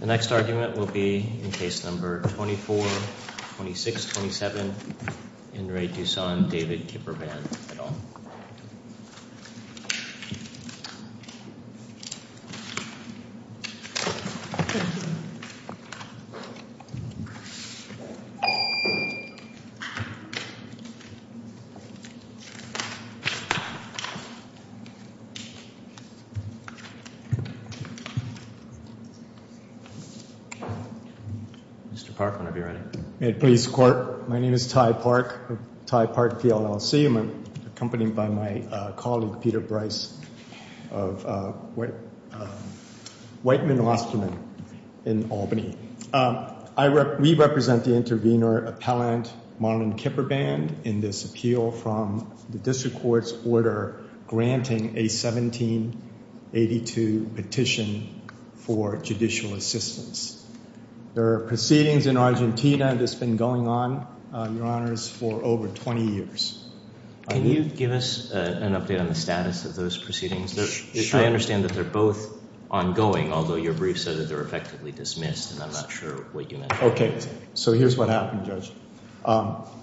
The next argument will be in case number 24-26-27 in Re Dussan David Kipperband et al. Mr. Park, whenever you're ready. At police court, my name is Ty Park, Ty Park, PLLC. I'm accompanied by my colleague, Peter Bryce of Whiteman-Osterman in Albany. We represent the intervener appellant, Marlon Kipperband, in this appeal from the district court's order granting a 1782 petition for judicial assistance. There are proceedings in Argentina that's been going on, your honors, for over 20 years. Can you give us an update on the status of those proceedings? Sure. I understand that they're both ongoing, although your brief said that they're effectively dismissed, and I'm not sure what you meant by that. Okay. So here's what happened, Judge.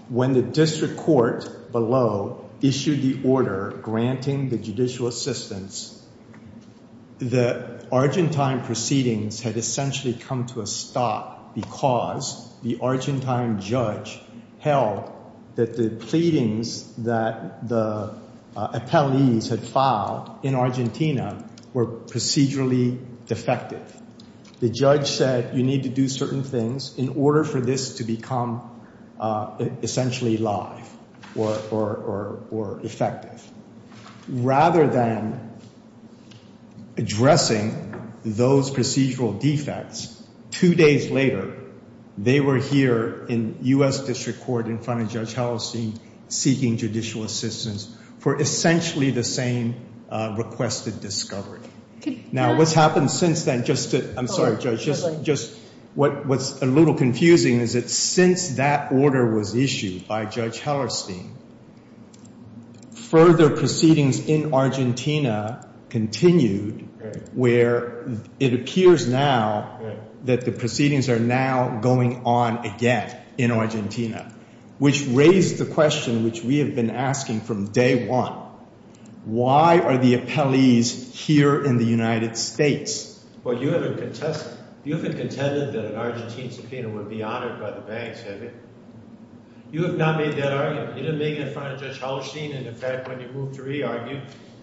When the district court below issued the order granting the judicial assistance, the Argentine proceedings had essentially come to a stop because the Argentine judge held that the pleadings that the appellees had filed in Argentina were procedurally defective. The judge said you need to do certain things in order for this to become essentially live or effective. Rather than addressing those procedural defects, two days later, they were here in U.S. District Court in front of Judge Hellerstein seeking judicial assistance for essentially the same requested discovery. Now, what's happened since then, just to – I'm sorry, Judge, just – what's a little confusing is that since that order was issued by Judge Hellerstein, further proceedings in Argentina continued where it appears now that the proceedings are now going on again in Argentina, which raised the question which we have been asking from day one. Why are the appellees here in the United States? Well, you haven't contested – you haven't contended that an Argentine subpoena would be honored by the banks, have you? You have not made that argument. You didn't make it in front of Judge Hellerstein, and in fact, when you moved to re-argue,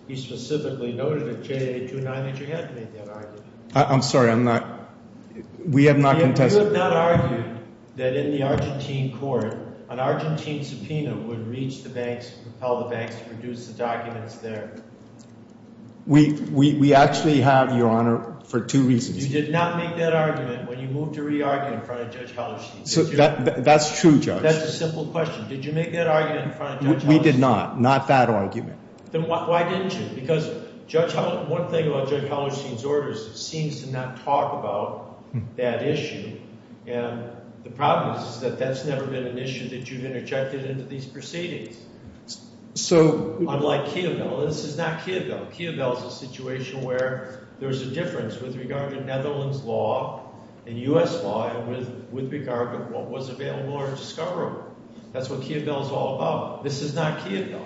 you specifically noted in J.A. 2-9 that you hadn't made that argument. I'm sorry. I'm not – we have not contested. You have not argued that in the Argentine court an Argentine subpoena would reach the banks and propel the banks to produce the documents there. We actually have, Your Honor, for two reasons. You did not make that argument when you moved to re-argue in front of Judge Hellerstein. That's true, Judge. That's a simple question. Did you make that argument in front of Judge Hellerstein? We did not. Not that argument. Then why didn't you? Because Judge – one thing about Judge Hellerstein's orders, it seems to not talk about that issue. And the problem is that that's never been an issue that you've interjected into these proceedings. So – Unlike Kievel. This is not Kievel. Kievel is a situation where there's a difference with regard to Netherlands law and U.S. law and with regard to what was available or discoverable. That's what Kievel is all about. This is not Kievel.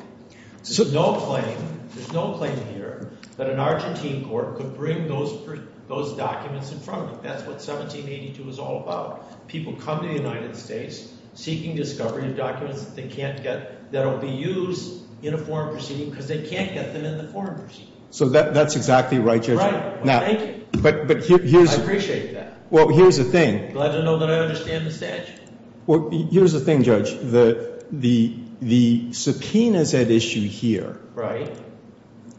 There's no claim – there's no claim here that an Argentine court could bring those documents in front of them. That's what 1782 is all about. People come to the United States seeking discovery of documents that they can't get – that'll be used in a foreign proceeding because they can't get them in the foreign proceeding. So that's exactly right, Judge. Right. Well, thank you. But here's – I appreciate that. Well, here's the thing. Glad to know that I understand the statute. Well, here's the thing, Judge. The subpoenas at issue here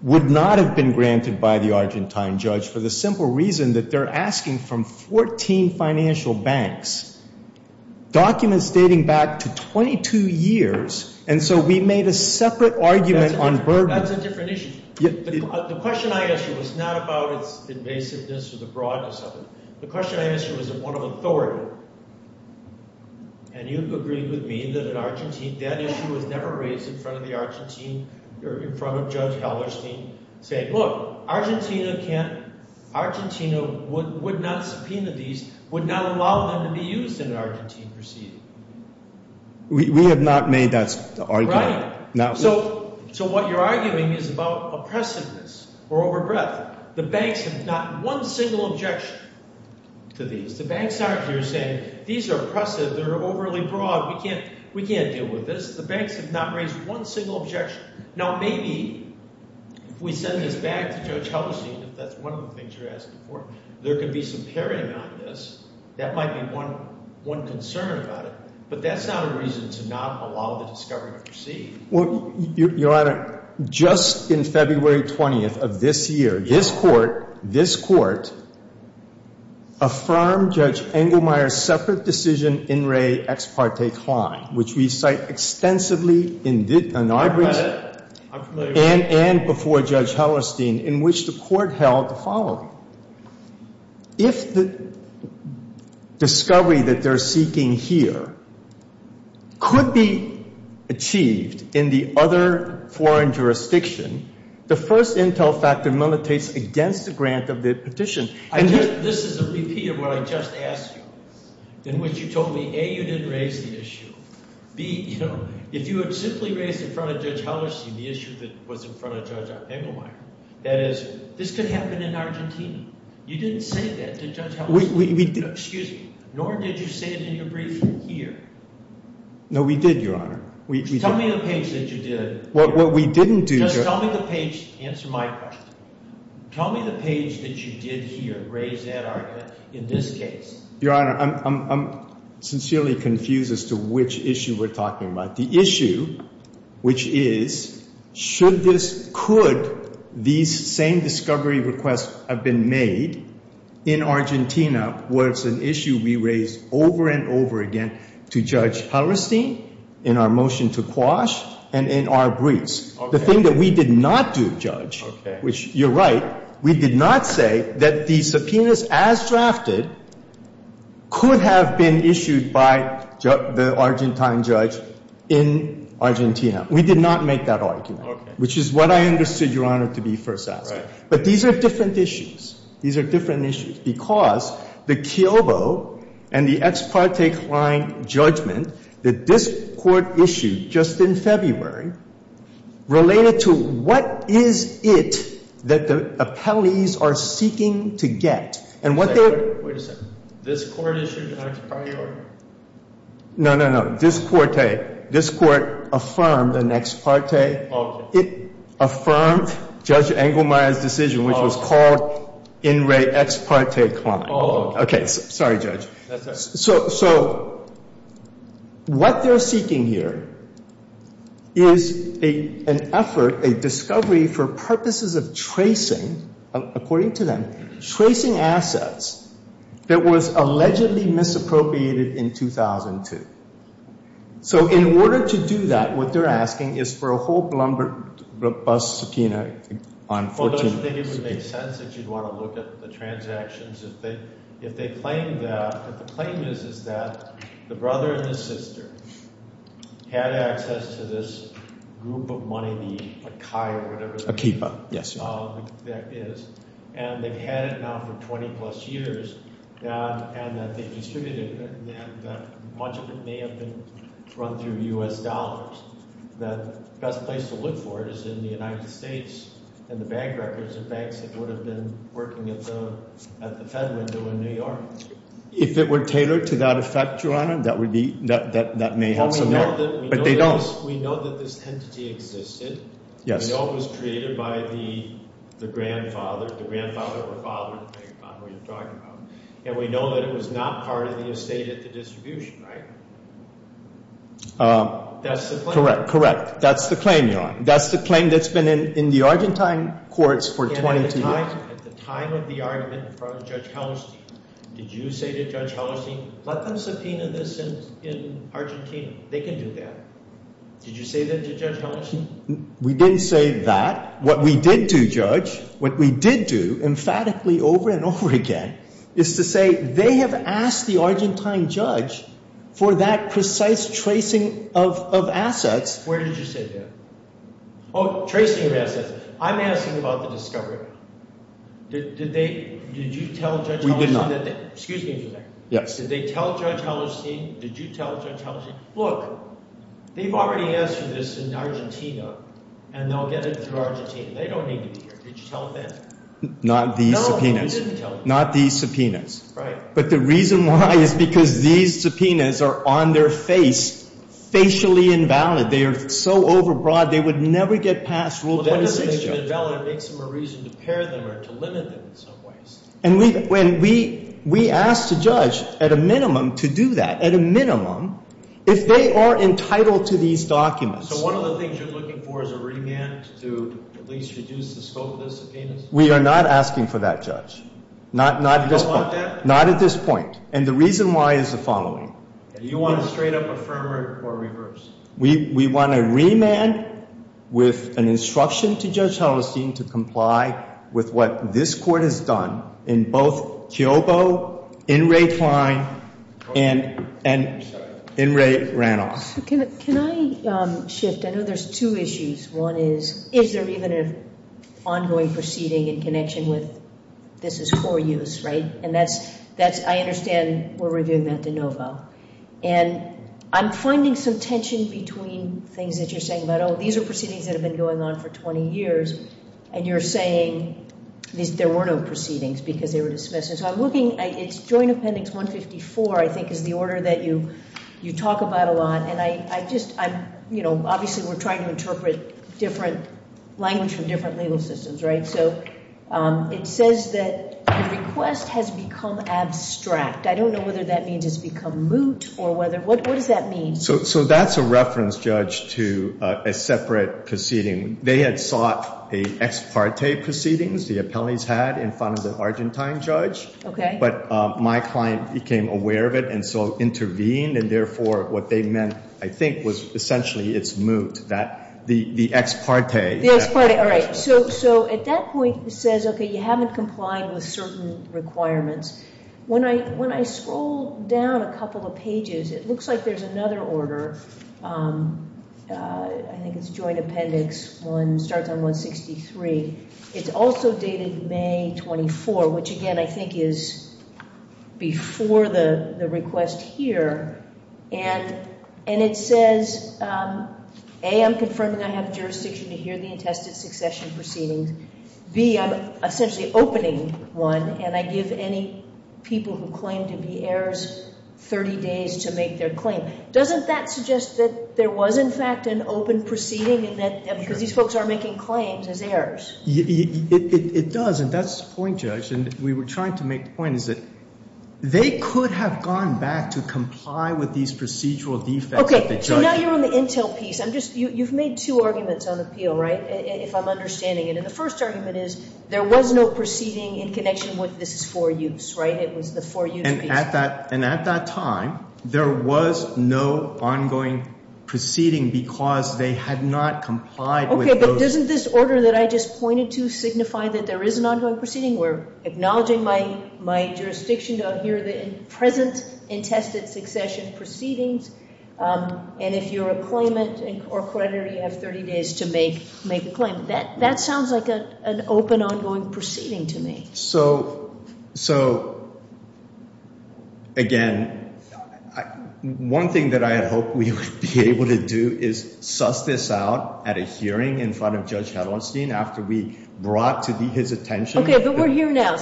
would not have been granted by the Argentine judge for the simple reason that they're asking from 14 financial banks documents dating back to 22 years. And so we made a separate argument on – That's a different issue. The question I asked you was not about its invasiveness or the broadness of it. The question I asked you was one of authority, and you've agreed with me that an Argentine – that issue was never raised in front of the Argentine – in front of Judge Hellerstein saying, look, Argentina can't – Argentina would not subpoena these, would not allow them to be used in an Argentine proceeding. We have not made that argument. So what you're arguing is about oppressiveness or overbreadth. The banks have not – one single objection to these. The banks aren't here saying these are oppressive. They're overly broad. We can't deal with this. The banks have not raised one single objection. Now, maybe if we send this back to Judge Hellerstein, if that's one of the things you're asking for, there could be some pairing on this. That might be one concern about it. But that's not a reason to not allow the discovery to proceed. Well, Your Honor, just in February 20th of this year, this Court – this Court affirmed Judge Engelmeyer's separate decision in Re Ex Parte Klein, which we cite extensively in our briefs and before Judge Hellerstein, in which the Court held the following. If the discovery that they're seeking here could be achieved in the other foreign jurisdiction, the first intel factor militates against the grant of the petition. This is a repeat of what I just asked you in which you told me, A, you didn't raise the issue. B, if you had simply raised in front of Judge Hellerstein the issue that was in front of Judge Engelmeyer, that is, this could happen in Argentina. You didn't say that to Judge Hellerstein. Excuse me. Nor did you say it in your brief here. No, we did, Your Honor. Tell me the page that you did. What we didn't do – Just tell me the page – answer my question. Tell me the page that you did here, raise that argument in this case. Your Honor, I'm sincerely confused as to which issue we're talking about. The issue, which is, should this – could these same discovery requests have been made in Argentina, was an issue we raised over and over again to Judge Hellerstein in our motion to Quash and in our briefs. The thing that we did not do, Judge, which you're right, we did not say that the subpoenas as drafted could have been issued by the Argentine judge in Argentina. We did not make that argument, which is what I understood, Your Honor, to be first asked. But these are different issues. These are different issues. Because the Kiobo and the ex parte client judgment that this Court issued just in February related to what is it that the appellees are seeking to get. And what they're – Wait a second. This Court issued an ex parte order? No, no, no. This court, this court affirmed an ex parte. Okay. It affirmed Judge Engelmeyer's decision, which was called in re ex parte client. Oh. Okay. Sorry, Judge. That's all right. So what they're seeking here is an effort, a discovery for purposes of tracing, according to them, tracing assets that was allegedly misappropriated in 2002. So in order to do that, what they're asking is for a whole Blumberg bus subpoena on 14 – Well, don't you think it would make sense that you'd want to look at the transactions if they claim that – if the claim is that the brother and the sister had access to this group of money, the Kai or whatever – Akiba, yes. And they've had it now for 20-plus years, and that they've distributed it. And much of it may have been run through U.S. dollars. The best place to look for it is in the United States, in the bank records of banks that would have been working at the Fed window in New York. If it were tailored to that effect, Your Honor, that would be – that may help some there. We know that this entity existed. Yes. We know it was created by the grandfather – the grandfather or father, depending on who you're talking about. And we know that it was not part of the estate at the distribution, right? That's the claim. Correct, correct. That's the claim, Your Honor. That's the claim that's been in the Argentine courts for 22 years. And at the time – at the time of the argument in front of Judge Hallerstein, did you say to Judge Hallerstein, let them subpoena this in Argentina? They can do that. Did you say that to Judge Hallerstein? We didn't say that. What we did do, Judge, what we did do emphatically over and over again is to say they have asked the Argentine judge for that precise tracing of assets. Where did you say that? Oh, tracing of assets. I'm asking about the discovery. Did they – did you tell Judge Hallerstein that they – We did not. Excuse me for a second. Yes. Did they tell Judge Hallerstein? Did you tell Judge Hallerstein? Look, they've already answered this in Argentina, and they'll get it through Argentina. They don't need to be here. Did you tell them? Not these subpoenas. No, you didn't tell them. Not these subpoenas. Right. But the reason why is because these subpoenas are on their face, facially invalid. They are so overbroad, they would never get past Rule 26, Judge. Well, that doesn't make them invalid. It makes them a reason to pair them or to limit them in some ways. And we ask the judge, at a minimum, to do that, at a minimum, if they are entitled to these documents. So one of the things you're looking for is a remand to at least reduce the scope of those subpoenas? We are not asking for that, Judge. Not at this point. You don't want that? Not at this point. And the reason why is the following. Do you want a straight-up affirmer or reverse? We want a remand with an instruction to Judge Hellerstein to comply with what this court has done in both Kiobo, In re Twine, and in re Ranoff. Can I shift? I know there's two issues. One is, is there even an ongoing proceeding in connection with this is for use, right? And I understand we're reviewing that de novo. And I'm finding some tension between things that you're saying about, oh, these are proceedings that have been going on for 20 years. And you're saying there were no proceedings because they were dismissed. So I'm looking, it's Joint Appendix 154, I think, is the order that you talk about a lot. And I just, I'm, you know, obviously we're trying to interpret different language from different legal systems, right? So it says that the request has become abstract. I don't know whether that means it's become moot or whether, what does that mean? So that's a reference, Judge, to a separate proceeding. They had sought a ex parte proceedings, the appellees had, in front of the Argentine judge. Okay. But my client became aware of it and so intervened. And therefore, what they meant, I think, was essentially it's moot, the ex parte. The ex parte, all right. So at that point it says, okay, you haven't complied with certain requirements. When I scroll down a couple of pages, it looks like there's another order. I think it's Joint Appendix 163. It's also dated May 24, which, again, I think is before the request here. And it says, A, I'm confirming I have jurisdiction to hear the attested succession proceedings. B, I'm essentially opening one and I give any people who claim to be heirs 30 days to make their claim. Doesn't that suggest that there was, in fact, an open proceeding because these folks are making claims as heirs? It does. And that's the point, Judge. And we were trying to make the point is that they could have gone back to comply with these procedural defects. Okay. So now you're on the intel piece. You've made two arguments on appeal, right, if I'm understanding it. And the first argument is there was no proceeding in connection with this is for use, right? It was the for use piece. And at that time there was no ongoing proceeding because they had not complied with those. But doesn't this order that I just pointed to signify that there is an ongoing proceeding? We're acknowledging my jurisdiction to hear the present attested succession proceedings. And if you're a claimant or creditor, you have 30 days to make a claim. That sounds like an open, ongoing proceeding to me. So, again, one thing that I had hoped we would be able to do is suss this out at a hearing in front of Judge Hedlonstein after we brought to his attention. Okay. But we're here now.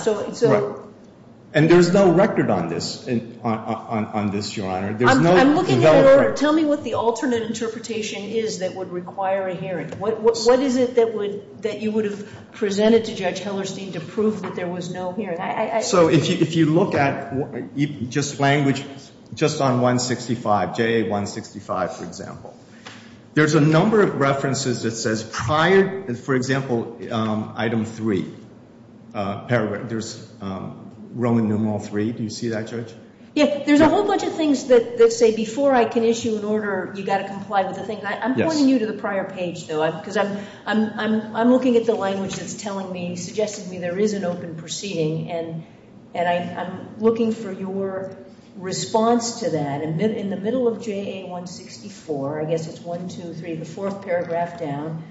And there's no record on this, Your Honor. I'm looking at it. Tell me what the alternate interpretation is that would require a hearing. What is it that you would have presented to Judge Hedlonstein to prove that there was no hearing? So if you look at just language, just on 165, JA-165, for example, there's a number of references that says prior, for example, item 3. There's Roman numeral 3. Do you see that, Judge? Yeah. There's a whole bunch of things that say before I can issue an order, you've got to comply with the thing. I'm pointing you to the prior page, though, because I'm looking at the language that's telling me, suggesting to me there is an open proceeding, and I'm looking for your response to that. In the middle of JA-164, I guess it's 1, 2, 3, the fourth paragraph down,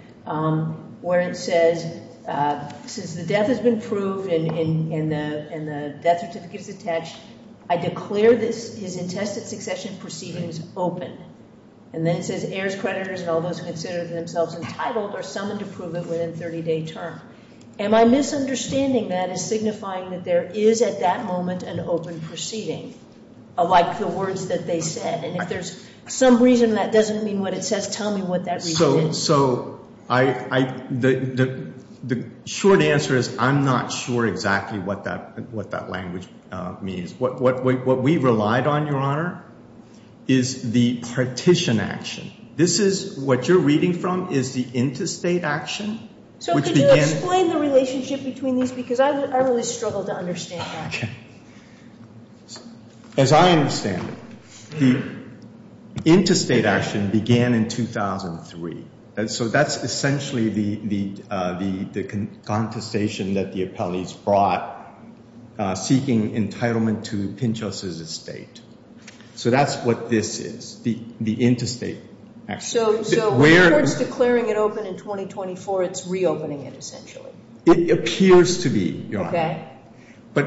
where it says, since the death has been proved and the death certificate is attached, I declare his intestate succession proceedings open. And then it says heirs, creditors, and all those who consider themselves entitled are summoned to prove it within a 30-day term. Am I misunderstanding that as signifying that there is at that moment an open proceeding, like the words that they said? And if there's some reason that doesn't mean what it says, tell me what that reason is. So the short answer is I'm not sure exactly what that language means. What we relied on, Your Honor, is the partition action. This is what you're reading from is the intestate action. So could you explain the relationship between these? Because I really struggle to understand that. Okay. As I understand it, the intestate action began in 2003. So that's essentially the contestation that the appellees brought seeking entitlement to Pinchos' estate. So that's what this is, the intestate action. So in other words, declaring it open in 2024, it's reopening it essentially. It appears to be, Your Honor. Okay.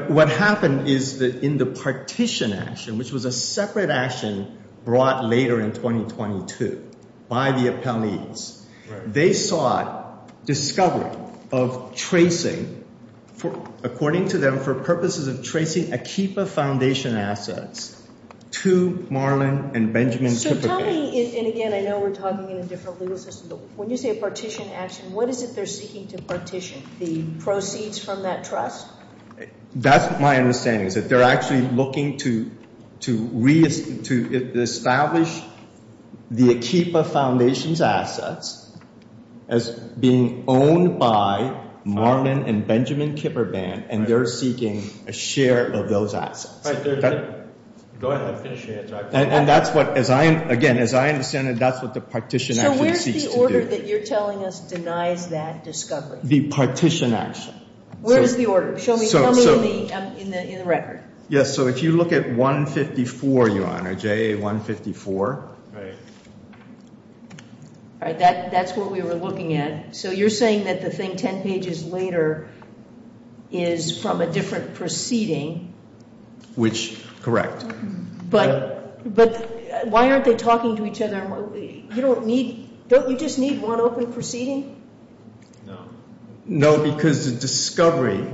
What happened is that in the partition action, which was a separate action brought later in 2022 by the appellees, they sought discovery of tracing, according to them, for purposes of tracing Akiba Foundation assets to Marlin and Benjamin. So tell me, and, again, I know we're talking in a different legal system, but when you say a partition action, what is it they're seeking to partition, the proceeds from that trust? That's my understanding, is that they're actually looking to reestablish the Akiba Foundation's assets as being owned by Marlin and Benjamin Kipper Band, and they're seeking a share of those assets. Go ahead and finish your answer. And that's what, again, as I understand it, that's what the partition action seeks to do. The order that you're telling us denies that discovery. The partition action. Where is the order? Show me in the record. Yes, so if you look at 154, Your Honor, JA 154. All right, that's what we were looking at. So you're saying that the thing 10 pages later is from a different proceeding. Which, correct. But why aren't they talking to each other? Don't you just need one open proceeding? No. No, because the discovery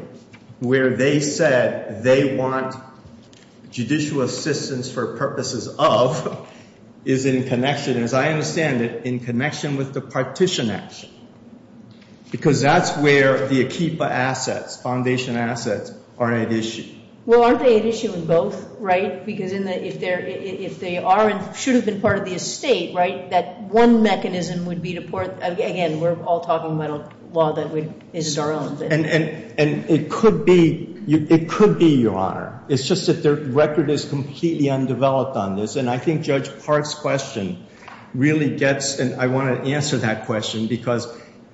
where they said they want judicial assistance for purposes of is in connection, as I understand it, in connection with the partition action. Because that's where the Akiba assets, foundation assets, are at issue. Well, aren't they at issue in both, right? Because if they are and should have been part of the estate, right, that one mechanism would be to, again, we're all talking about a law that is our own. And it could be, Your Honor. It's just that their record is completely undeveloped on this. And I think Judge Park's question really gets, and I want to answer that question, because,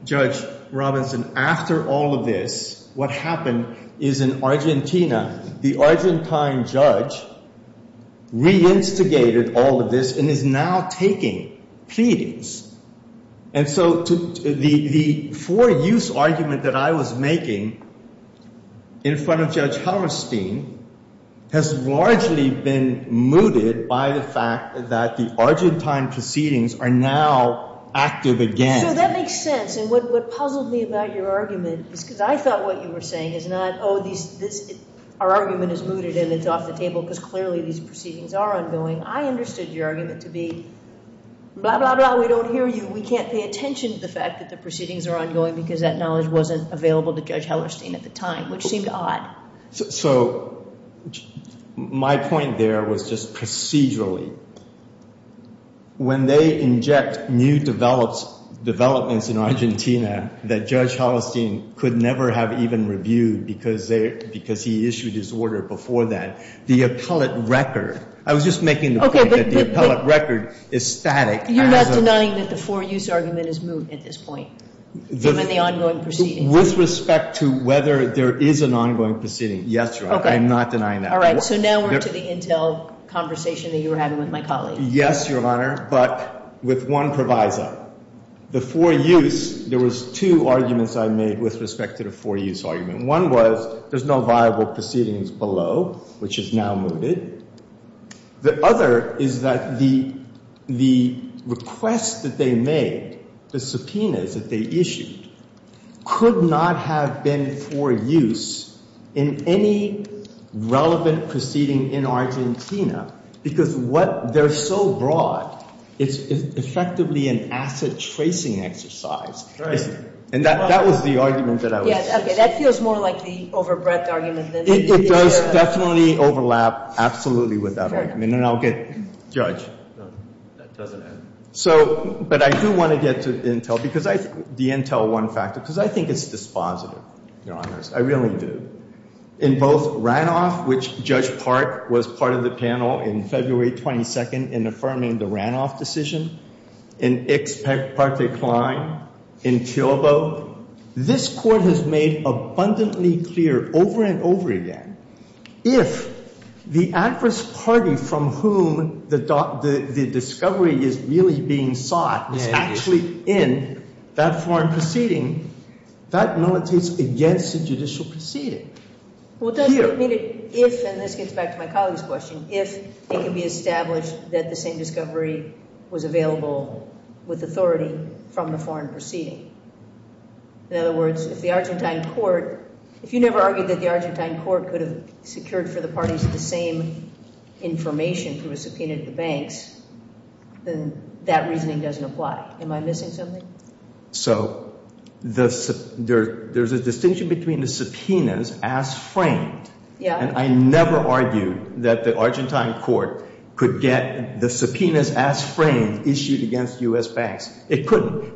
Judge Robinson, after all of this, what happened is in Argentina, the Argentine judge reinstigated all of this and is now taking pleadings. And so the for-use argument that I was making in front of Judge Helmerstein has largely been mooted by the fact that the Argentine proceedings are now active again. So that makes sense. And what puzzled me about your argument is because I thought what you were saying is not, oh, our argument is mooted and it's off the table because clearly these proceedings are ongoing. I understood your argument to be, blah, blah, blah, we don't hear you. We can't pay attention to the fact that the proceedings are ongoing because that knowledge wasn't available to Judge Helmerstein at the time, which seemed odd. So my point there was just procedurally. When they inject new developments in Argentina that Judge Helmerstein could never have even reviewed because he issued his order before that, the appellate record, I was just making the point that the appellate record is static. You're not denying that the for-use argument is moot at this point, given the ongoing proceedings? With respect to whether there is an ongoing proceeding, yes, Your Honor. Okay. I'm not denying that. All right. So now we're to the intel conversation that you were having with my colleague. Yes, Your Honor, but with one proviso. The for-use, there was two arguments I made with respect to the for-use argument. One was there's no viable proceedings below, which is now mooted. The other is that the request that they made, the subpoenas that they issued, could not have been for-use in any relevant proceeding in Argentina because what they're so broad, it's effectively an asset-tracing exercise. Right. And that was the argument that I was suggesting. Okay. That feels more like the over-breadth argument. It does definitely overlap absolutely with that argument, and I'll get Judge. No, that doesn't add. But I do want to get to the intel one factor because I think it's dispositive, Your Honors. I really do. In both Ranoff, which Judge Park was part of the panel in February 22nd in affirming the Ranoff decision, in Ex Parte Klein, in Chilbo, this Court has made abundantly clear over and over again, if the adverse party from whom the discovery is really being sought is actually in that foreign proceeding, that militates against the judicial proceeding. What does it mean if, and this gets back to my colleague's question, if it can be established that the same discovery was available with authority from the foreign proceeding? In other words, if the Argentine court, if you never argued that the Argentine court could have secured for the parties the same information through a subpoena to the banks, then that reasoning doesn't apply. Am I missing something? So there's a distinction between the subpoenas as framed, and I never argued that the Argentine court could get the subpoenas as framed issued against U.S. banks. It couldn't.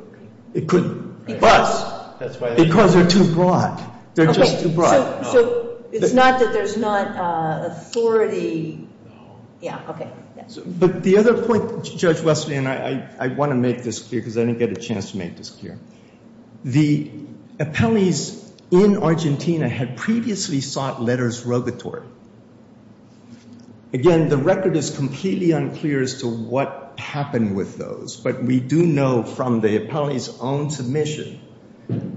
It couldn't. Because? Because they're too broad. They're just too broad. So it's not that there's not authority. Yeah, okay. But the other point, Judge Wesley, and I want to make this clear because I didn't get a chance to make this clear. The appellees in Argentina had previously sought letters rogatory. Again, the record is completely unclear as to what happened with those, but we do know from the appellee's own submission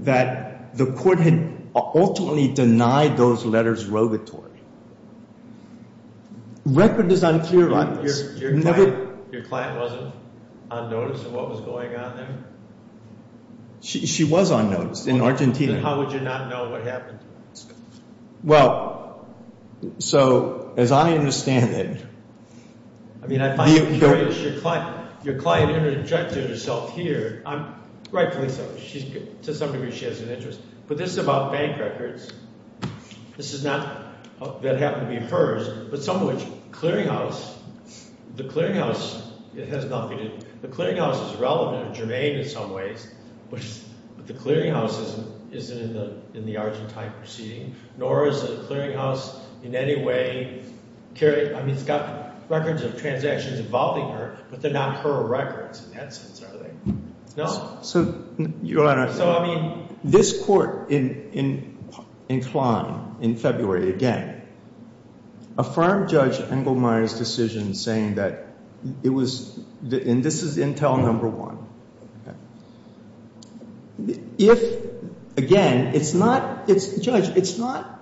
that the court had ultimately denied those letters rogatory. The record is unclear on this. Your client wasn't on notice of what was going on there? She was on notice in Argentina. Then how would you not know what happened? Well, so as I understand it. I mean, I find it curious. Your client interjected herself here. Rightfully so. To some degree, she has an interest. But this is about bank records. This is not that it happened to be hers. But some of which clearinghouse, the clearinghouse, it has nothing to do. The clearinghouse is relevant to Germaine in some ways, but the clearinghouse isn't in the Argentine proceeding, nor is the clearinghouse in any way carried. I mean, it's got records of transactions involving her, but they're not her records in that sense, are they? No. So, Your Honor, this court in Klein in February, again, affirmed Judge Engelmeyer's decision saying that it was, and this is intel number one. If, again, it's not, Judge, it's not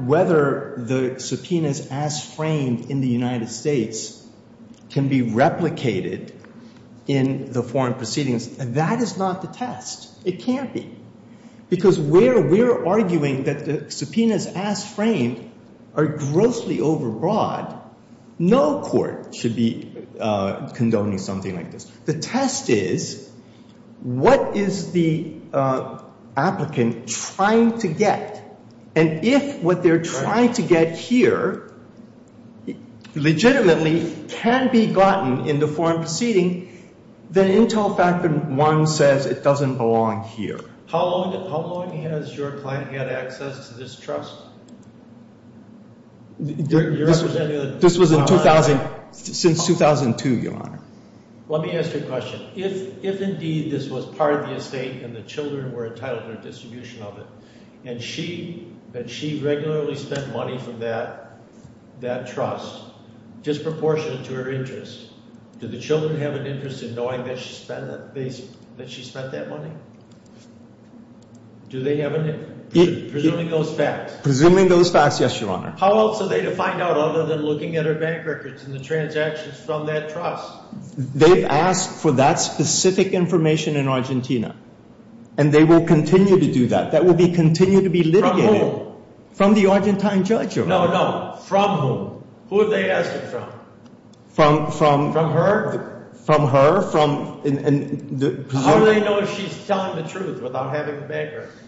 whether the subpoenas as framed in the United States can be replicated in the foreign proceedings, that is not the test. It can't be. Because where we're arguing that the subpoenas as framed are grossly overbroad, no court should be condoning something like this. The test is, what is the applicant trying to get? And if what they're trying to get here legitimately can be gotten in the foreign proceeding, then intel factor one says it doesn't belong here. How long has your client had access to this trust? This was in 2000, since 2002, Your Honor. Let me ask you a question. If indeed this was part of the estate and the children were entitled to a distribution of it, and she regularly spent money from that trust, disproportionate to her interests, do the children have an interest in knowing that she spent that money? Do they have an interest? Presuming those facts. Presuming those facts, yes, Your Honor. How else are they to find out other than looking at her bank records and the transactions from that trust? They've asked for that specific information in Argentina, and they will continue to do that. That will continue to be litigated. From whom? From the Argentine judge, Your Honor. No, no. From whom? Who have they asked it from? From her? From her. How do they know if she's telling the truth without having the bank records?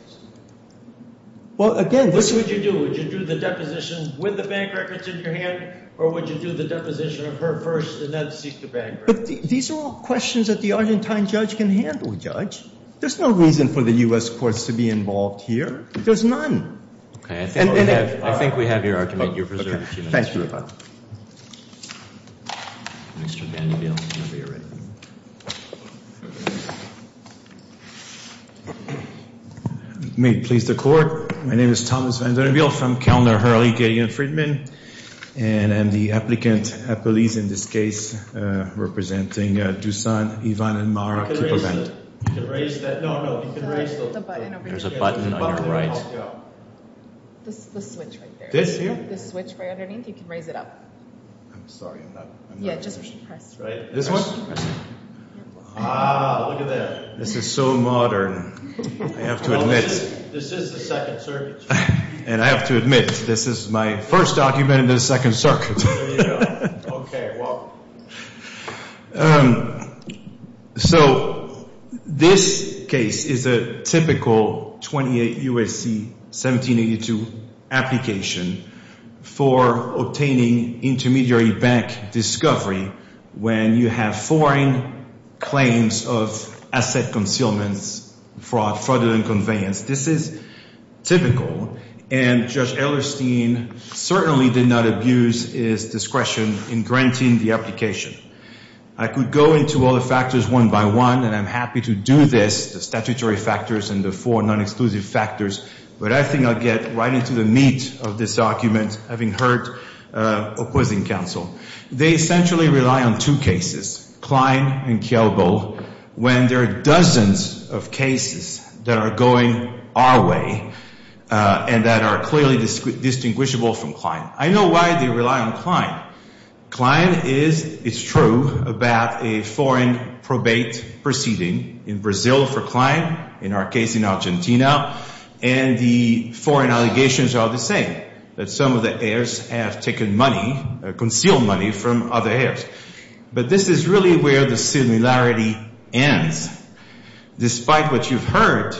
Well, again, this is. What would you do? Would you do the deposition with the bank records in your hand, or would you do the deposition of her first and then seek the bank records? These are all questions that the Argentine judge can handle, Judge. There's no reason for the U.S. courts to be involved here. There's none. I think we have your argument. You're preserved a few minutes, Your Honor. Okay. Mr. Vanderbilt. Whenever you're ready. May it please the Court. My name is Thomas Vanderbilt from Kellner, Hurley, Gideon, Friedman, and I'm the applicant appellees in this case representing Dusan, Ivan, and Mara. You can raise that. No, no. You can raise the button. There's a button on your right. The switch right there. This here? The switch right underneath. You can raise it up. I'm sorry. I'm not. Yeah, just press. Right. This one? Ah, look at that. This is so modern. I have to admit. This is the Second Circuit. And I have to admit, this is my first document in the Second Circuit. There you go. Okay. Well. So this case is a typical 28 U.S.C. 1782 application for obtaining intermediary bank discovery when you have foreign claims of asset concealments, fraud, fraudulent conveyance. This is typical. And Judge Ehlerstein certainly did not abuse his discretion in granting the application. I could go into all the factors one by one, and I'm happy to do this, the statutory factors and the four non-exclusive factors, but I think I'll get right into the meat of this argument having heard opposing counsel. They essentially rely on two cases, Klein and Kielbo, when there are dozens of cases that are going our way and that are clearly distinguishable from Klein. I know why they rely on Klein. Klein is, it's true, about a foreign probate proceeding in Brazil for Klein, in our case in Argentina, and the foreign allegations are the same, that some of the heirs have taken money, concealed money from other heirs. But this is really where the similarity ends. Despite what you've heard,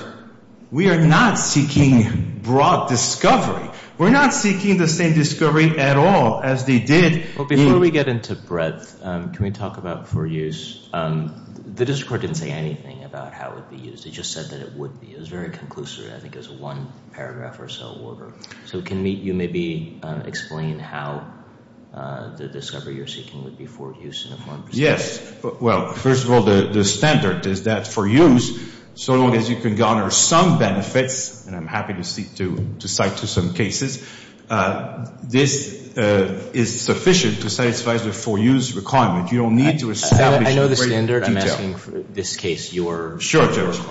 we are not seeking broad discovery. We're not seeking the same discovery at all as they did. Before we get into breadth, can we talk about for use? The district court didn't say anything about how it would be used. It just said that it would be. It was very conclusive. I think it was one paragraph or so. So can you maybe explain how the discovery you're seeking would be for use? Yes. Well, first of all, the standard is that for use, so long as you can garner some benefits, and I'm happy to cite to some cases, this is sufficient to satisfy the for use requirement. You don't need to establish it in great detail. I know the standard. I'm asking for this case, your claim.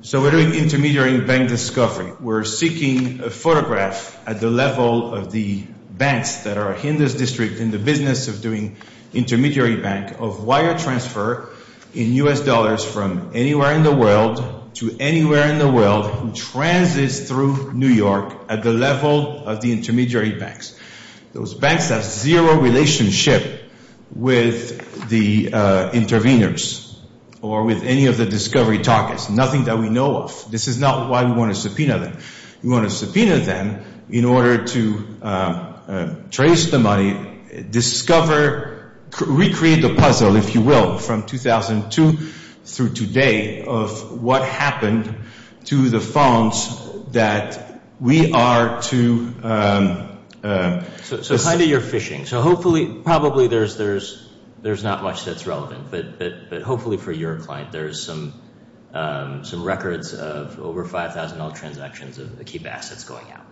So we're doing intermediary bank discovery. We're seeking a photograph at the level of the banks that are in this district in the business of doing intermediary bank of wire transfer in U.S. dollars from anywhere in the world to anywhere in the world who transits through New York at the level of the intermediary banks. Those banks have zero relationship with the interveners or with any of the discovery targets. Nothing that we know of. This is not why we want to subpoena them. We want to subpoena them in order to trace the money, discover, recreate the puzzle, if you will, from 2002 through today of what happened to the funds that we are to... So kind of your fishing. So hopefully, probably there's not much that's relevant. But hopefully for your client, there's some records of over $5,000 transactions of Akiba assets going out.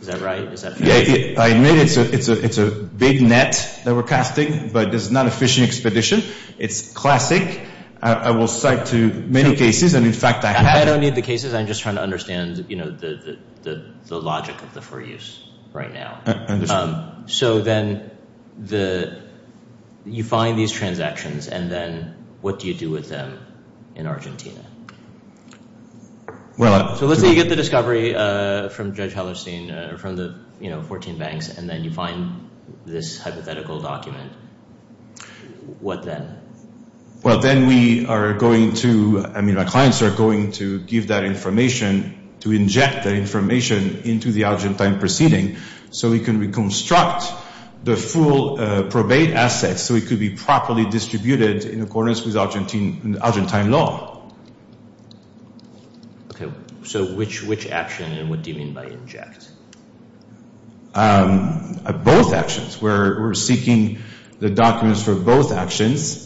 Is that right? Is that fair? I admit it's a big net that we're casting, but it's not a fishing expedition. It's classic. I will cite to many cases, and in fact, I have... I don't need the cases. I'm just trying to understand the logic of the for use right now. Understood. So then you find these transactions, and then what do you do with them in Argentina? So let's say you get the discovery from Judge Hallerstein, from the 14 banks, and then you find this hypothetical document. What then? Well, then we are going to... I mean, our clients are going to give that information, to inject that information into the Argentine proceeding so we can reconstruct the full probate assets so it could be properly distributed in accordance with Argentine law. Okay. So which action and what do you mean by inject? Both actions. We're seeking the documents for both actions.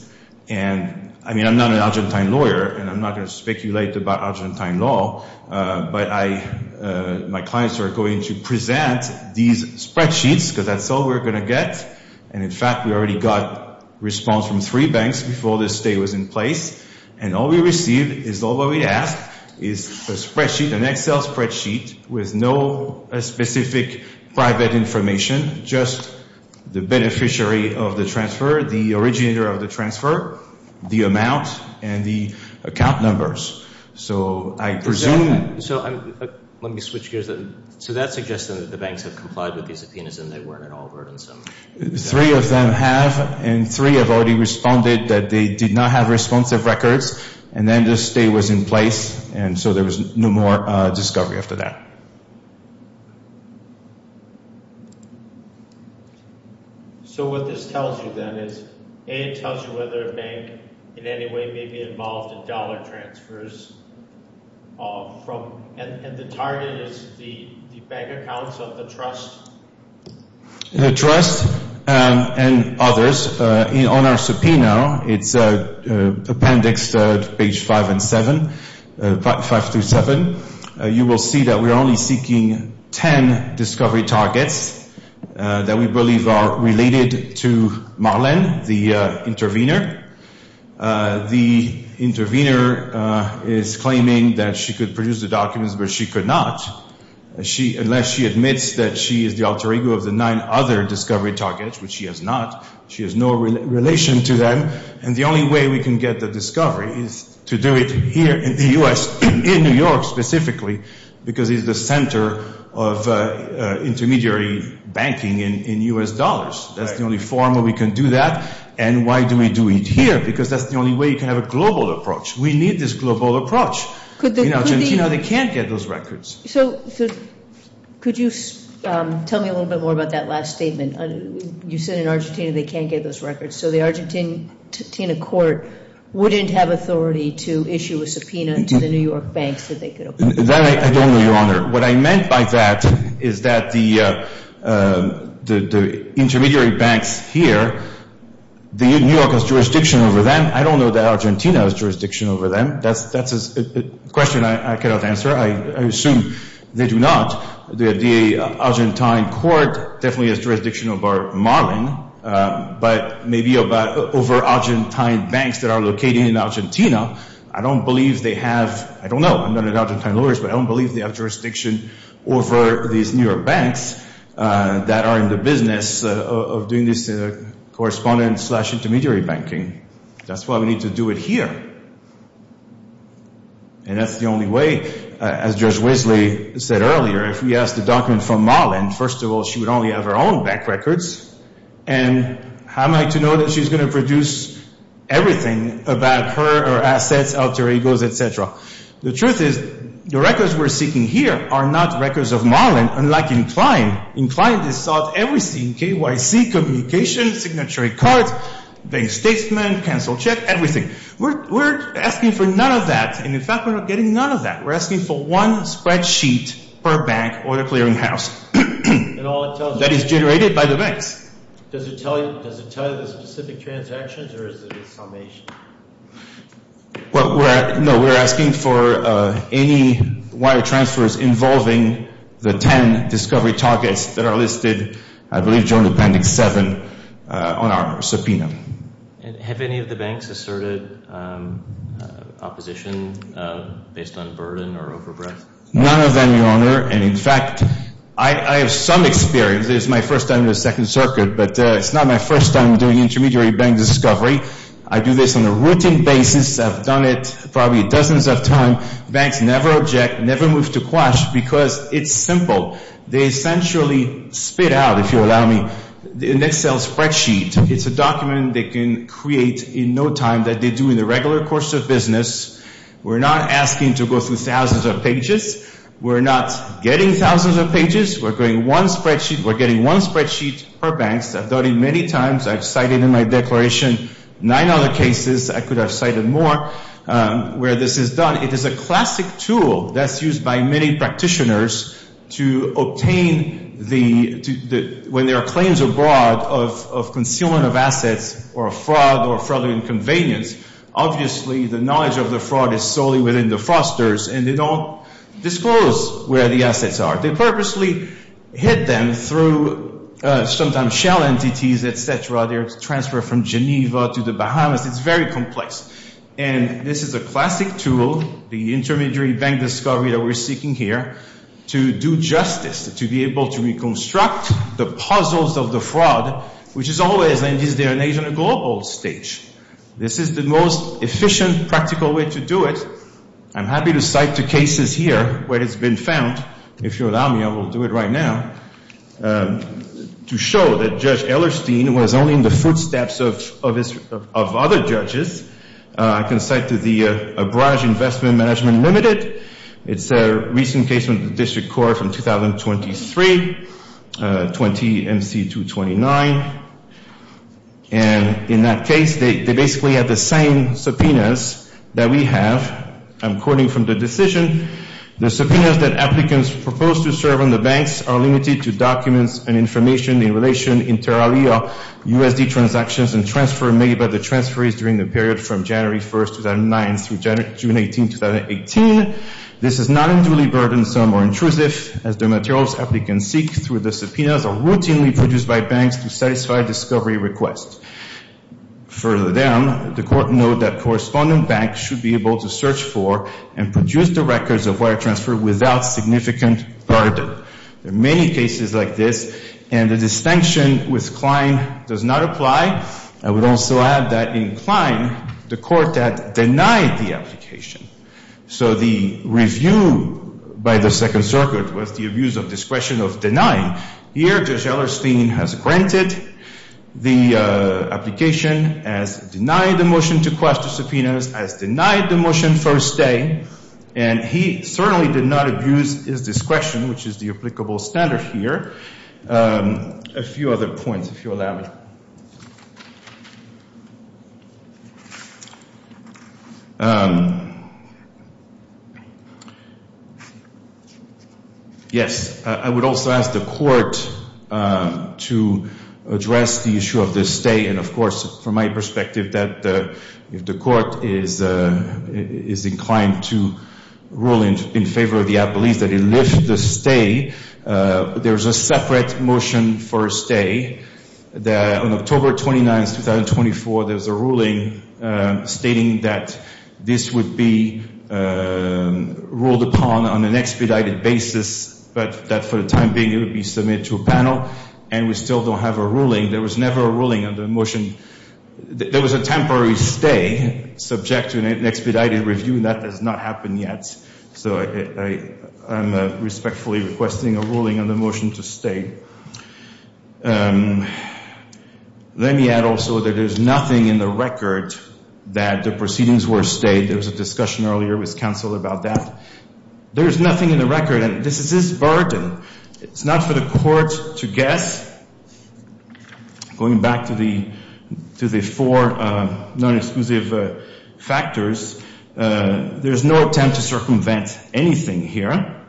And, I mean, I'm not an Argentine lawyer, and I'm not going to speculate about Argentine law, but my clients are going to present these spreadsheets because that's all we're going to get. And, in fact, we already got response from three banks before this state was in place, and all we received is all what we asked is a spreadsheet, an Excel spreadsheet, with no specific private information, just the beneficiary of the transfer, the originator of the transfer, the amount, and the account numbers. So I presume... So let me switch gears. So that's suggesting that the banks have complied with these subpoenas and they weren't at all burdensome. Three of them have, and three have already responded that they did not have responsive records, and then this state was in place, and so there was no more discovery after that. So what this tells you then is, A, it tells you whether a bank in any way may be involved in dollar transfers, and the target is the bank accounts of the trust? The trust and others. On our subpoena, it's appendix to page 5 and 7, 5 through 7. You will see that we are only seeking 10 discovery targets that we believe are related to Marlene, the intervener. The intervener is claiming that she could produce the documents, but she could not, unless she admits that she is the alter ego of the nine other discovery targets, which she has not. She has no relation to them, and the only way we can get the discovery is to do it here in the U.S., in New York specifically, because it's the center of intermediary banking in U.S. dollars. That's the only forum where we can do that, and why do we do it here? Because that's the only way you can have a global approach. We need this global approach. In Argentina, they can't get those records. So could you tell me a little bit more about that last statement? You said in Argentina they can't get those records, so the Argentine court wouldn't have authority to issue a subpoena to the New York banks that they could open up. That I don't know, Your Honor. What I meant by that is that the intermediary banks here, New York has jurisdiction over them. I don't know that Argentina has jurisdiction over them. That's a question I cannot answer. I assume they do not. The Argentine court definitely has jurisdiction over Marlin, but maybe over Argentine banks that are located in Argentina. I don't believe they have. I don't know. I'm not an Argentine lawyer, but I don't believe they have jurisdiction over these New York banks that are in the business of doing this correspondence slash intermediary banking. That's why we need to do it here, and that's the only way. As Judge Weasley said earlier, if we ask the document from Marlin, first of all, she would only have her own bank records, and how am I to know that she's going to produce everything about her assets, alter egos, et cetera? The truth is the records we're seeking here are not records of Marlin, unlike Inclined. Inclined has sought everything, KYC, communications, signatory cards, bank statement, cancel check, everything. We're asking for none of that, and in fact we're not getting none of that. We're asking for one spreadsheet per bank or the clearinghouse that is generated by the banks. Does it tell you the specific transactions, or is it a summation? No, we're asking for any wire transfers involving the 10 discovery targets that are listed, I believe generally pending seven on our subpoena. Have any of the banks asserted opposition based on burden or overbreadth? None of them, Your Honor, and in fact I have some experience. This is my first time in the Second Circuit, but it's not my first time doing intermediary bank discovery. I do this on a routine basis. I've done it probably dozens of times. Banks never object, never move to quash because it's simple. They essentially spit out, if you allow me, an Excel spreadsheet. It's a document they can create in no time that they do in the regular course of business. We're not asking to go through thousands of pages. We're not getting thousands of pages. We're getting one spreadsheet per bank. I've done it many times. I've cited in my declaration nine other cases. I could have cited more where this is done. It is a classic tool that's used by many practitioners to obtain the – when there are claims abroad of concealment of assets or fraud or fraudulent convenience, obviously the knowledge of the fraud is solely within the fosters, and they don't disclose where the assets are. They purposely hid them through sometimes shell entities, et cetera. They're transferred from Geneva to the Bahamas. It's very complex. And this is a classic tool, the intermediary bank discovery that we're seeking here, to do justice, to be able to reconstruct the puzzles of the fraud, which is always, in this day and age, on a global stage. This is the most efficient, practical way to do it. I'm happy to cite two cases here where it's been found. If you allow me, I will do it right now. To show that Judge Ehlerstein was only in the footsteps of other judges, I can cite the Abraj Investment Management Limited. It's a recent case with the District Court from 2023, 20 MC 229. And in that case, they basically had the same subpoenas that we have. I'm quoting from the decision. The subpoenas that applicants propose to serve on the banks are limited to documents and information in relation entirely of USD transactions and transfer made by the transferees during the period from January 1, 2009, through June 18, 2018. This is not unduly burdensome or intrusive, as the materials applicants seek through the subpoenas are routinely produced by banks to satisfy discovery requests. Further down, the court noted that correspondent banks should be able to search for and produce the records of wire transfer without significant burden. There are many cases like this, and the distinction with Klein does not apply. I would also add that in Klein, the court had denied the application. So the review by the Second Circuit was the abuse of discretion of denying. Here, Judge Ehlerstein has granted the application, has denied the motion to quash the subpoenas, has denied the motion for a stay, and he certainly did not abuse his discretion, which is the applicable standard here. A few other points, if you'll allow me. Yes, I would also ask the court to address the issue of the stay, and of course, from my perspective, that if the court is inclined to rule in favor of the appellees, that it lifts the stay. There's a separate motion for a stay. On October 29, 2024, there was a ruling stating that this would be ruled upon on an expedited basis, but that for the time being, it would be submitted to a panel, and we still don't have a ruling. There was never a ruling on the motion. There was a temporary stay subject to an expedited review, and that has not happened yet. So I'm respectfully requesting a ruling on the motion to stay. Let me add also that there's nothing in the record that the proceedings were stayed. There was a discussion earlier with counsel about that. There's nothing in the record, and this is his burden. It's not for the court to guess. Going back to the four non-exclusive factors, there's no attempt to circumvent anything here.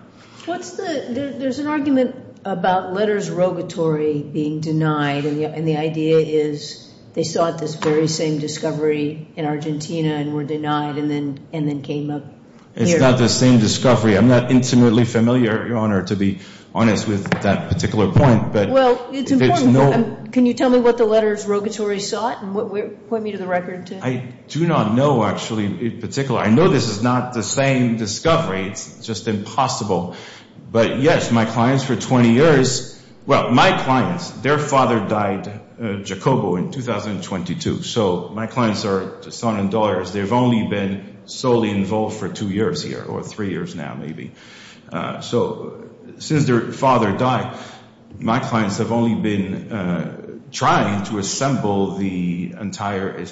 There's an argument about letters rogatory being denied, and the idea is they sought this very same discovery in Argentina and were denied and then came up here. It's not the same discovery. I'm not intimately familiar, Your Honor, to be honest with that particular point. Well, it's important. Can you tell me what the letters rogatory sought and point me to the record? I do not know, actually, in particular. I know this is not the same discovery. It's just impossible. But, yes, my clients for 20 years, well, my clients, their father died, Jacobo, in 2022. So my clients are son and daughters. They've only been solely involved for two years here or three years now, maybe. So since their father died, my clients have only been trying to assemble the entire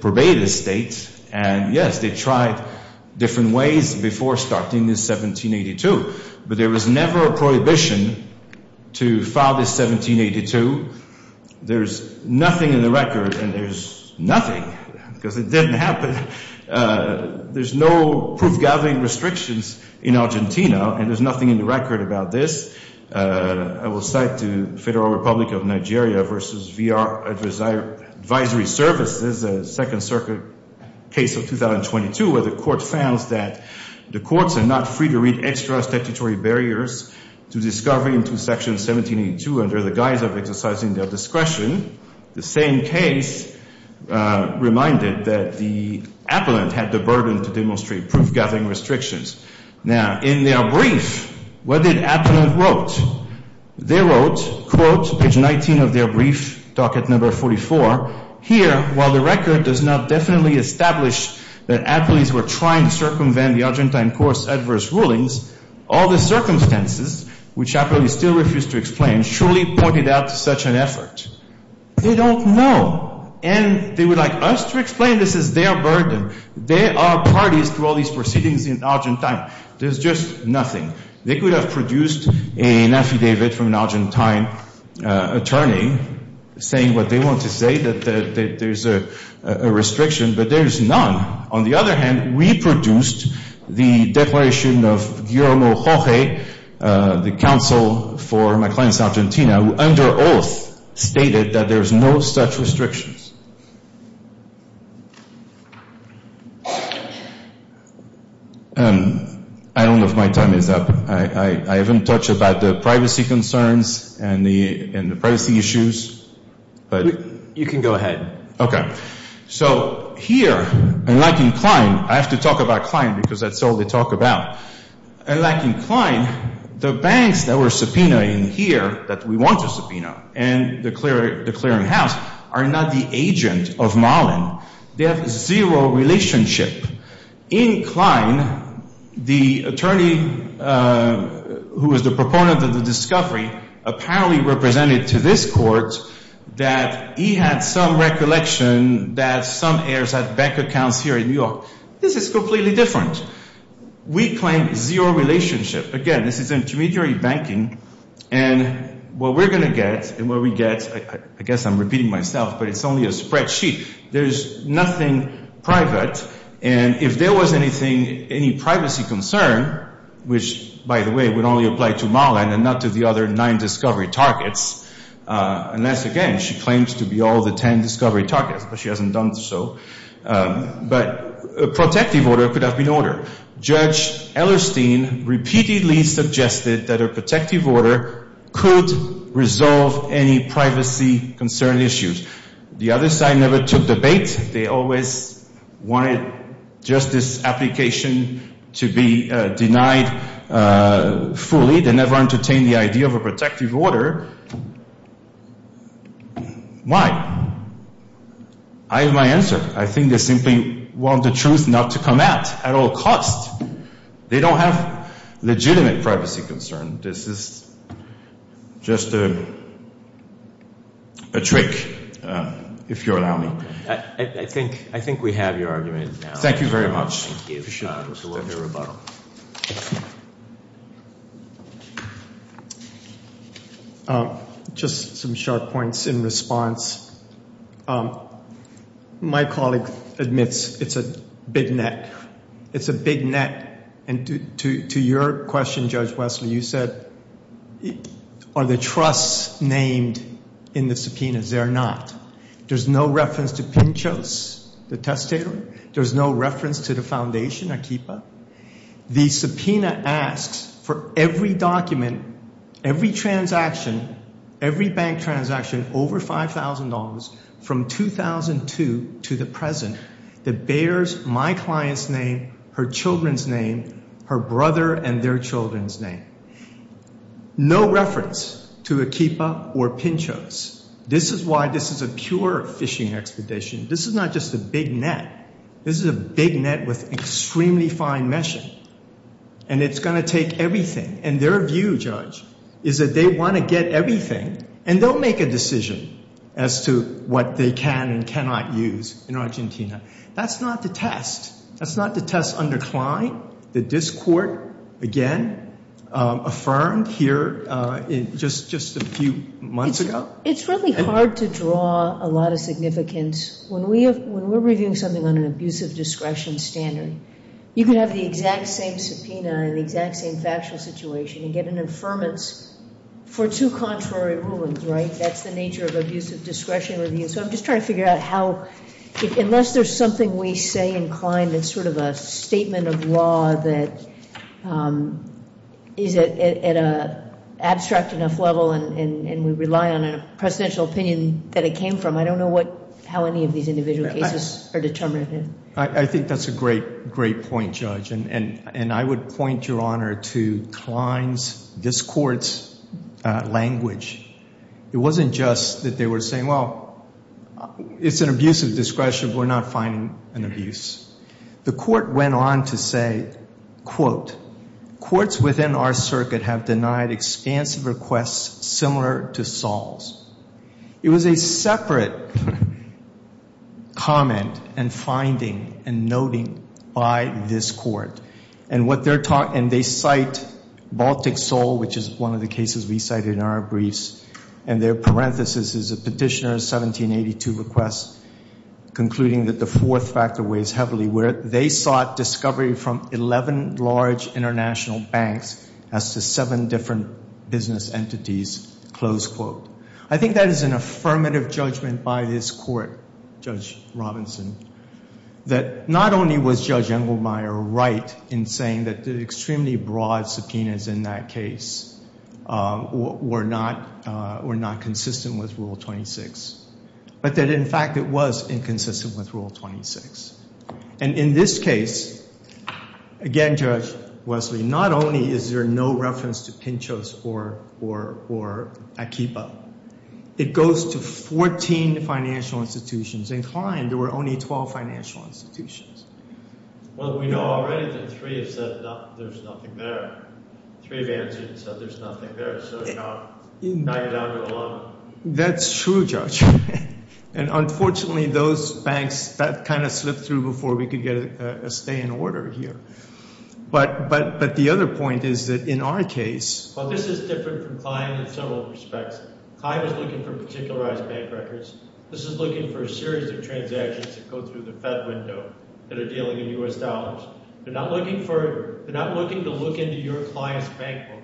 probated estates, and, yes, they tried different ways before starting this 1782. But there was never a prohibition to file this 1782. There's nothing in the record, and there's nothing because it didn't happen. There's no proof-gathering restrictions in Argentina, and there's nothing in the record about this. I will cite the Federal Republic of Nigeria versus VR Advisory Services, a Second Circuit case of 2022 where the court found that the courts are not free to read extra statutory barriers to discovery into Section 1782 under the guise of exercising their discretion. The same case reminded that the appellant had the burden to demonstrate proof-gathering restrictions. Now, in their brief, what did appellant wrote? They wrote, quote, page 19 of their brief, docket number 44, here, while the record does not definitely establish that appellees were trying to circumvent the Argentine court's adverse rulings, all the circumstances, which appellees still refuse to explain, surely pointed out such an effort. They don't know, and they would like us to explain this is their burden. They are parties to all these proceedings in Argentina. There's just nothing. They could have produced an affidavit from an Argentine attorney saying what they want to say, that there's a restriction, but there's none. On the other hand, we produced the declaration of Guillermo Jorge, the counsel for Maclean's Argentina, who under oath stated that there's no such restrictions. I don't know if my time is up. I haven't touched about the privacy concerns and the privacy issues. You can go ahead. Okay. So here, unlike in Klein, I have to talk about Klein because that's all they talk about. Unlike in Klein, the banks that were subpoenaed in here that we want to subpoena and the clearinghouse are not the agent of Malin. They have zero relationship. In Klein, the attorney who was the proponent of the discovery apparently represented to this court that he had some recollection that some heirs had bank accounts here in New York. This is completely different. We claim zero relationship. Again, this is intermediary banking, and what we're going to get and what we get, I guess I'm repeating myself, but it's only a spreadsheet. There's nothing private, and if there was anything, any privacy concern, which, by the way, would only apply to Malin and not to the other nine discovery targets, unless, again, she claims to be all the ten discovery targets, but she hasn't done so. But a protective order could have been ordered. Judge Ellerstein repeatedly suggested that a protective order could resolve any privacy concern issues. The other side never took the bait. They always wanted just this application to be denied fully. They never entertained the idea of a protective order. Why? I have my answer. I think they simply want the truth not to come out at all cost. They don't have legitimate privacy concern. This is just a trick, if you'll allow me. I think we have your argument now. Thank you very much. Thank you. It was a wonderful rebuttal. Just some sharp points in response. My colleague admits it's a big net. It's a big net. And to your question, Judge Wesley, you said, are the trusts named in the subpoenas? They are not. There's no reference to Pinchos, the testator. There's no reference to the foundation, Akipa. The subpoena asks for every document, every transaction, every bank transaction over $5,000 from 2002 to the present that bears my client's name, her children's name, her brother and their children's name. No reference to Akipa or Pinchos. This is why this is a pure fishing expedition. This is not just a big net. This is a big net with extremely fine meshing, and it's going to take everything. And their view, Judge, is that they want to get everything, and they'll make a decision as to what they can and cannot use in Argentina. That's not the test. That's not the test under Klein, the discord, again, affirmed here just a few months ago. It's really hard to draw a lot of significance. When we're reviewing something on an abusive discretion standard, you can have the exact same subpoena in the exact same factual situation and get an affirmance for two contrary rulings, right? That's the nature of abusive discretion review. So I'm just trying to figure out how, unless there's something we say in Klein that's sort of a statement of law that is at an abstract enough level and we rely on a presidential opinion that it came from, I don't know how any of these individual cases are determined. I think that's a great, great point, Judge, and I would point, Your Honor, to Klein's, this Court's, language. It wasn't just that they were saying, well, it's an abusive discretion, we're not finding an abuse. The Court went on to say, quote, courts within our circuit have denied expansive requests similar to Saul's. It was a separate comment and finding and noting by this Court, and they cite Baltic Saul, which is one of the cases we cited in our briefs, and their parenthesis is a petitioner's 1782 request concluding that the fourth factor weighs heavily, where they sought discovery from 11 large international banks as to seven different business entities, close quote. I think that is an affirmative judgment by this Court, Judge Robinson, that not only was Judge Engelmeyer right in saying that the extremely broad subpoenas in that case were not consistent with Rule 26, but that, in fact, it was inconsistent with Rule 26. And in this case, again, Judge Wesley, not only is there no reference to Pinchos or Akiba, it goes to 14 financial institutions. In Klein, there were only 12 financial institutions. Well, we know already that three have said there's nothing there. Three have answered and said there's nothing there, so now you're down to 11. That's true, Judge. And unfortunately, those banks, that kind of slipped through before we could get a stay in order here. But the other point is that in our case— Well, this is different from Klein in several respects. Klein was looking for particularized bank records. This is looking for a series of transactions that go through the Fed window that are dealing in U.S. dollars. They're not looking to look into your client's bank book.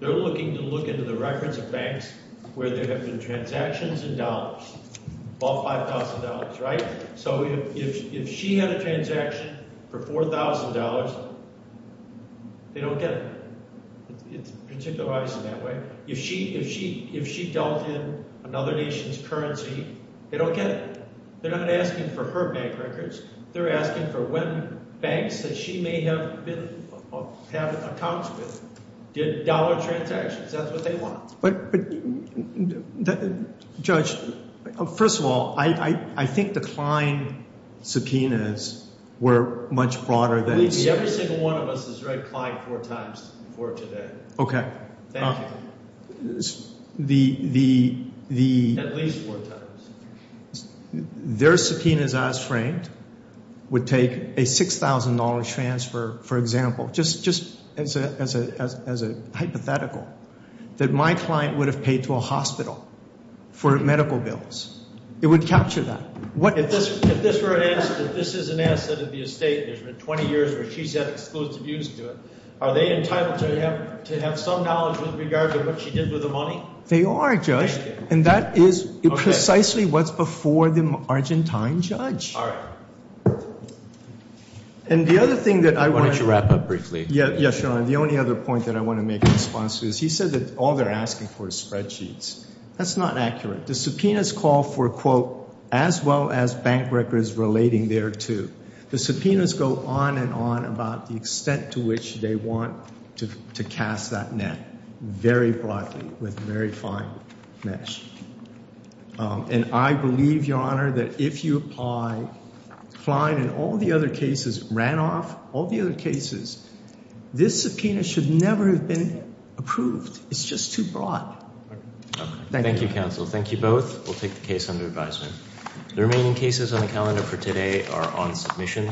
They're looking to look into the records of banks where there have been transactions in dollars, all $5,000, right? So if she had a transaction for $4,000, they don't get it. It's particularized in that way. If she dealt in another nation's currency, they don't get it. They're not asking for her bank records. They're asking for when banks that she may have been—have accounts with did dollar transactions. That's what they want. But, Judge, first of all, I think the Klein subpoenas were much broader than— Believe me, every single one of us has read Klein four times before today. Okay. Thank you. The— At least four times. Their subpoenas as framed would take a $6,000 transfer, for example, just as a hypothetical, that my client would have paid to a hospital for medical bills. It would capture that. If this were an asset, if this is an asset of the estate and there's been 20 years where she's had exclusive use to it, are they entitled to have some knowledge with regard to what she did with the money? They are, Judge. And that is precisely what's before the Argentine judge. All right. And the other thing that I want to— Why don't you wrap up briefly? Yeah, Sean. The only other point that I want to make in response to this, he said that all they're asking for is spreadsheets. That's not accurate. The subpoenas call for, quote, as well as bank records relating thereto. The subpoenas go on and on about the extent to which they want to cast that net very broadly with very fine mesh. And I believe, Your Honor, that if you apply Klein and all the other cases, Ranoff, all the other cases, this subpoena should never have been approved. It's just too broad. Thank you. Thank you, counsel. Thank you both. We'll take the case under advisement. The remaining cases on the calendar for today are on submission.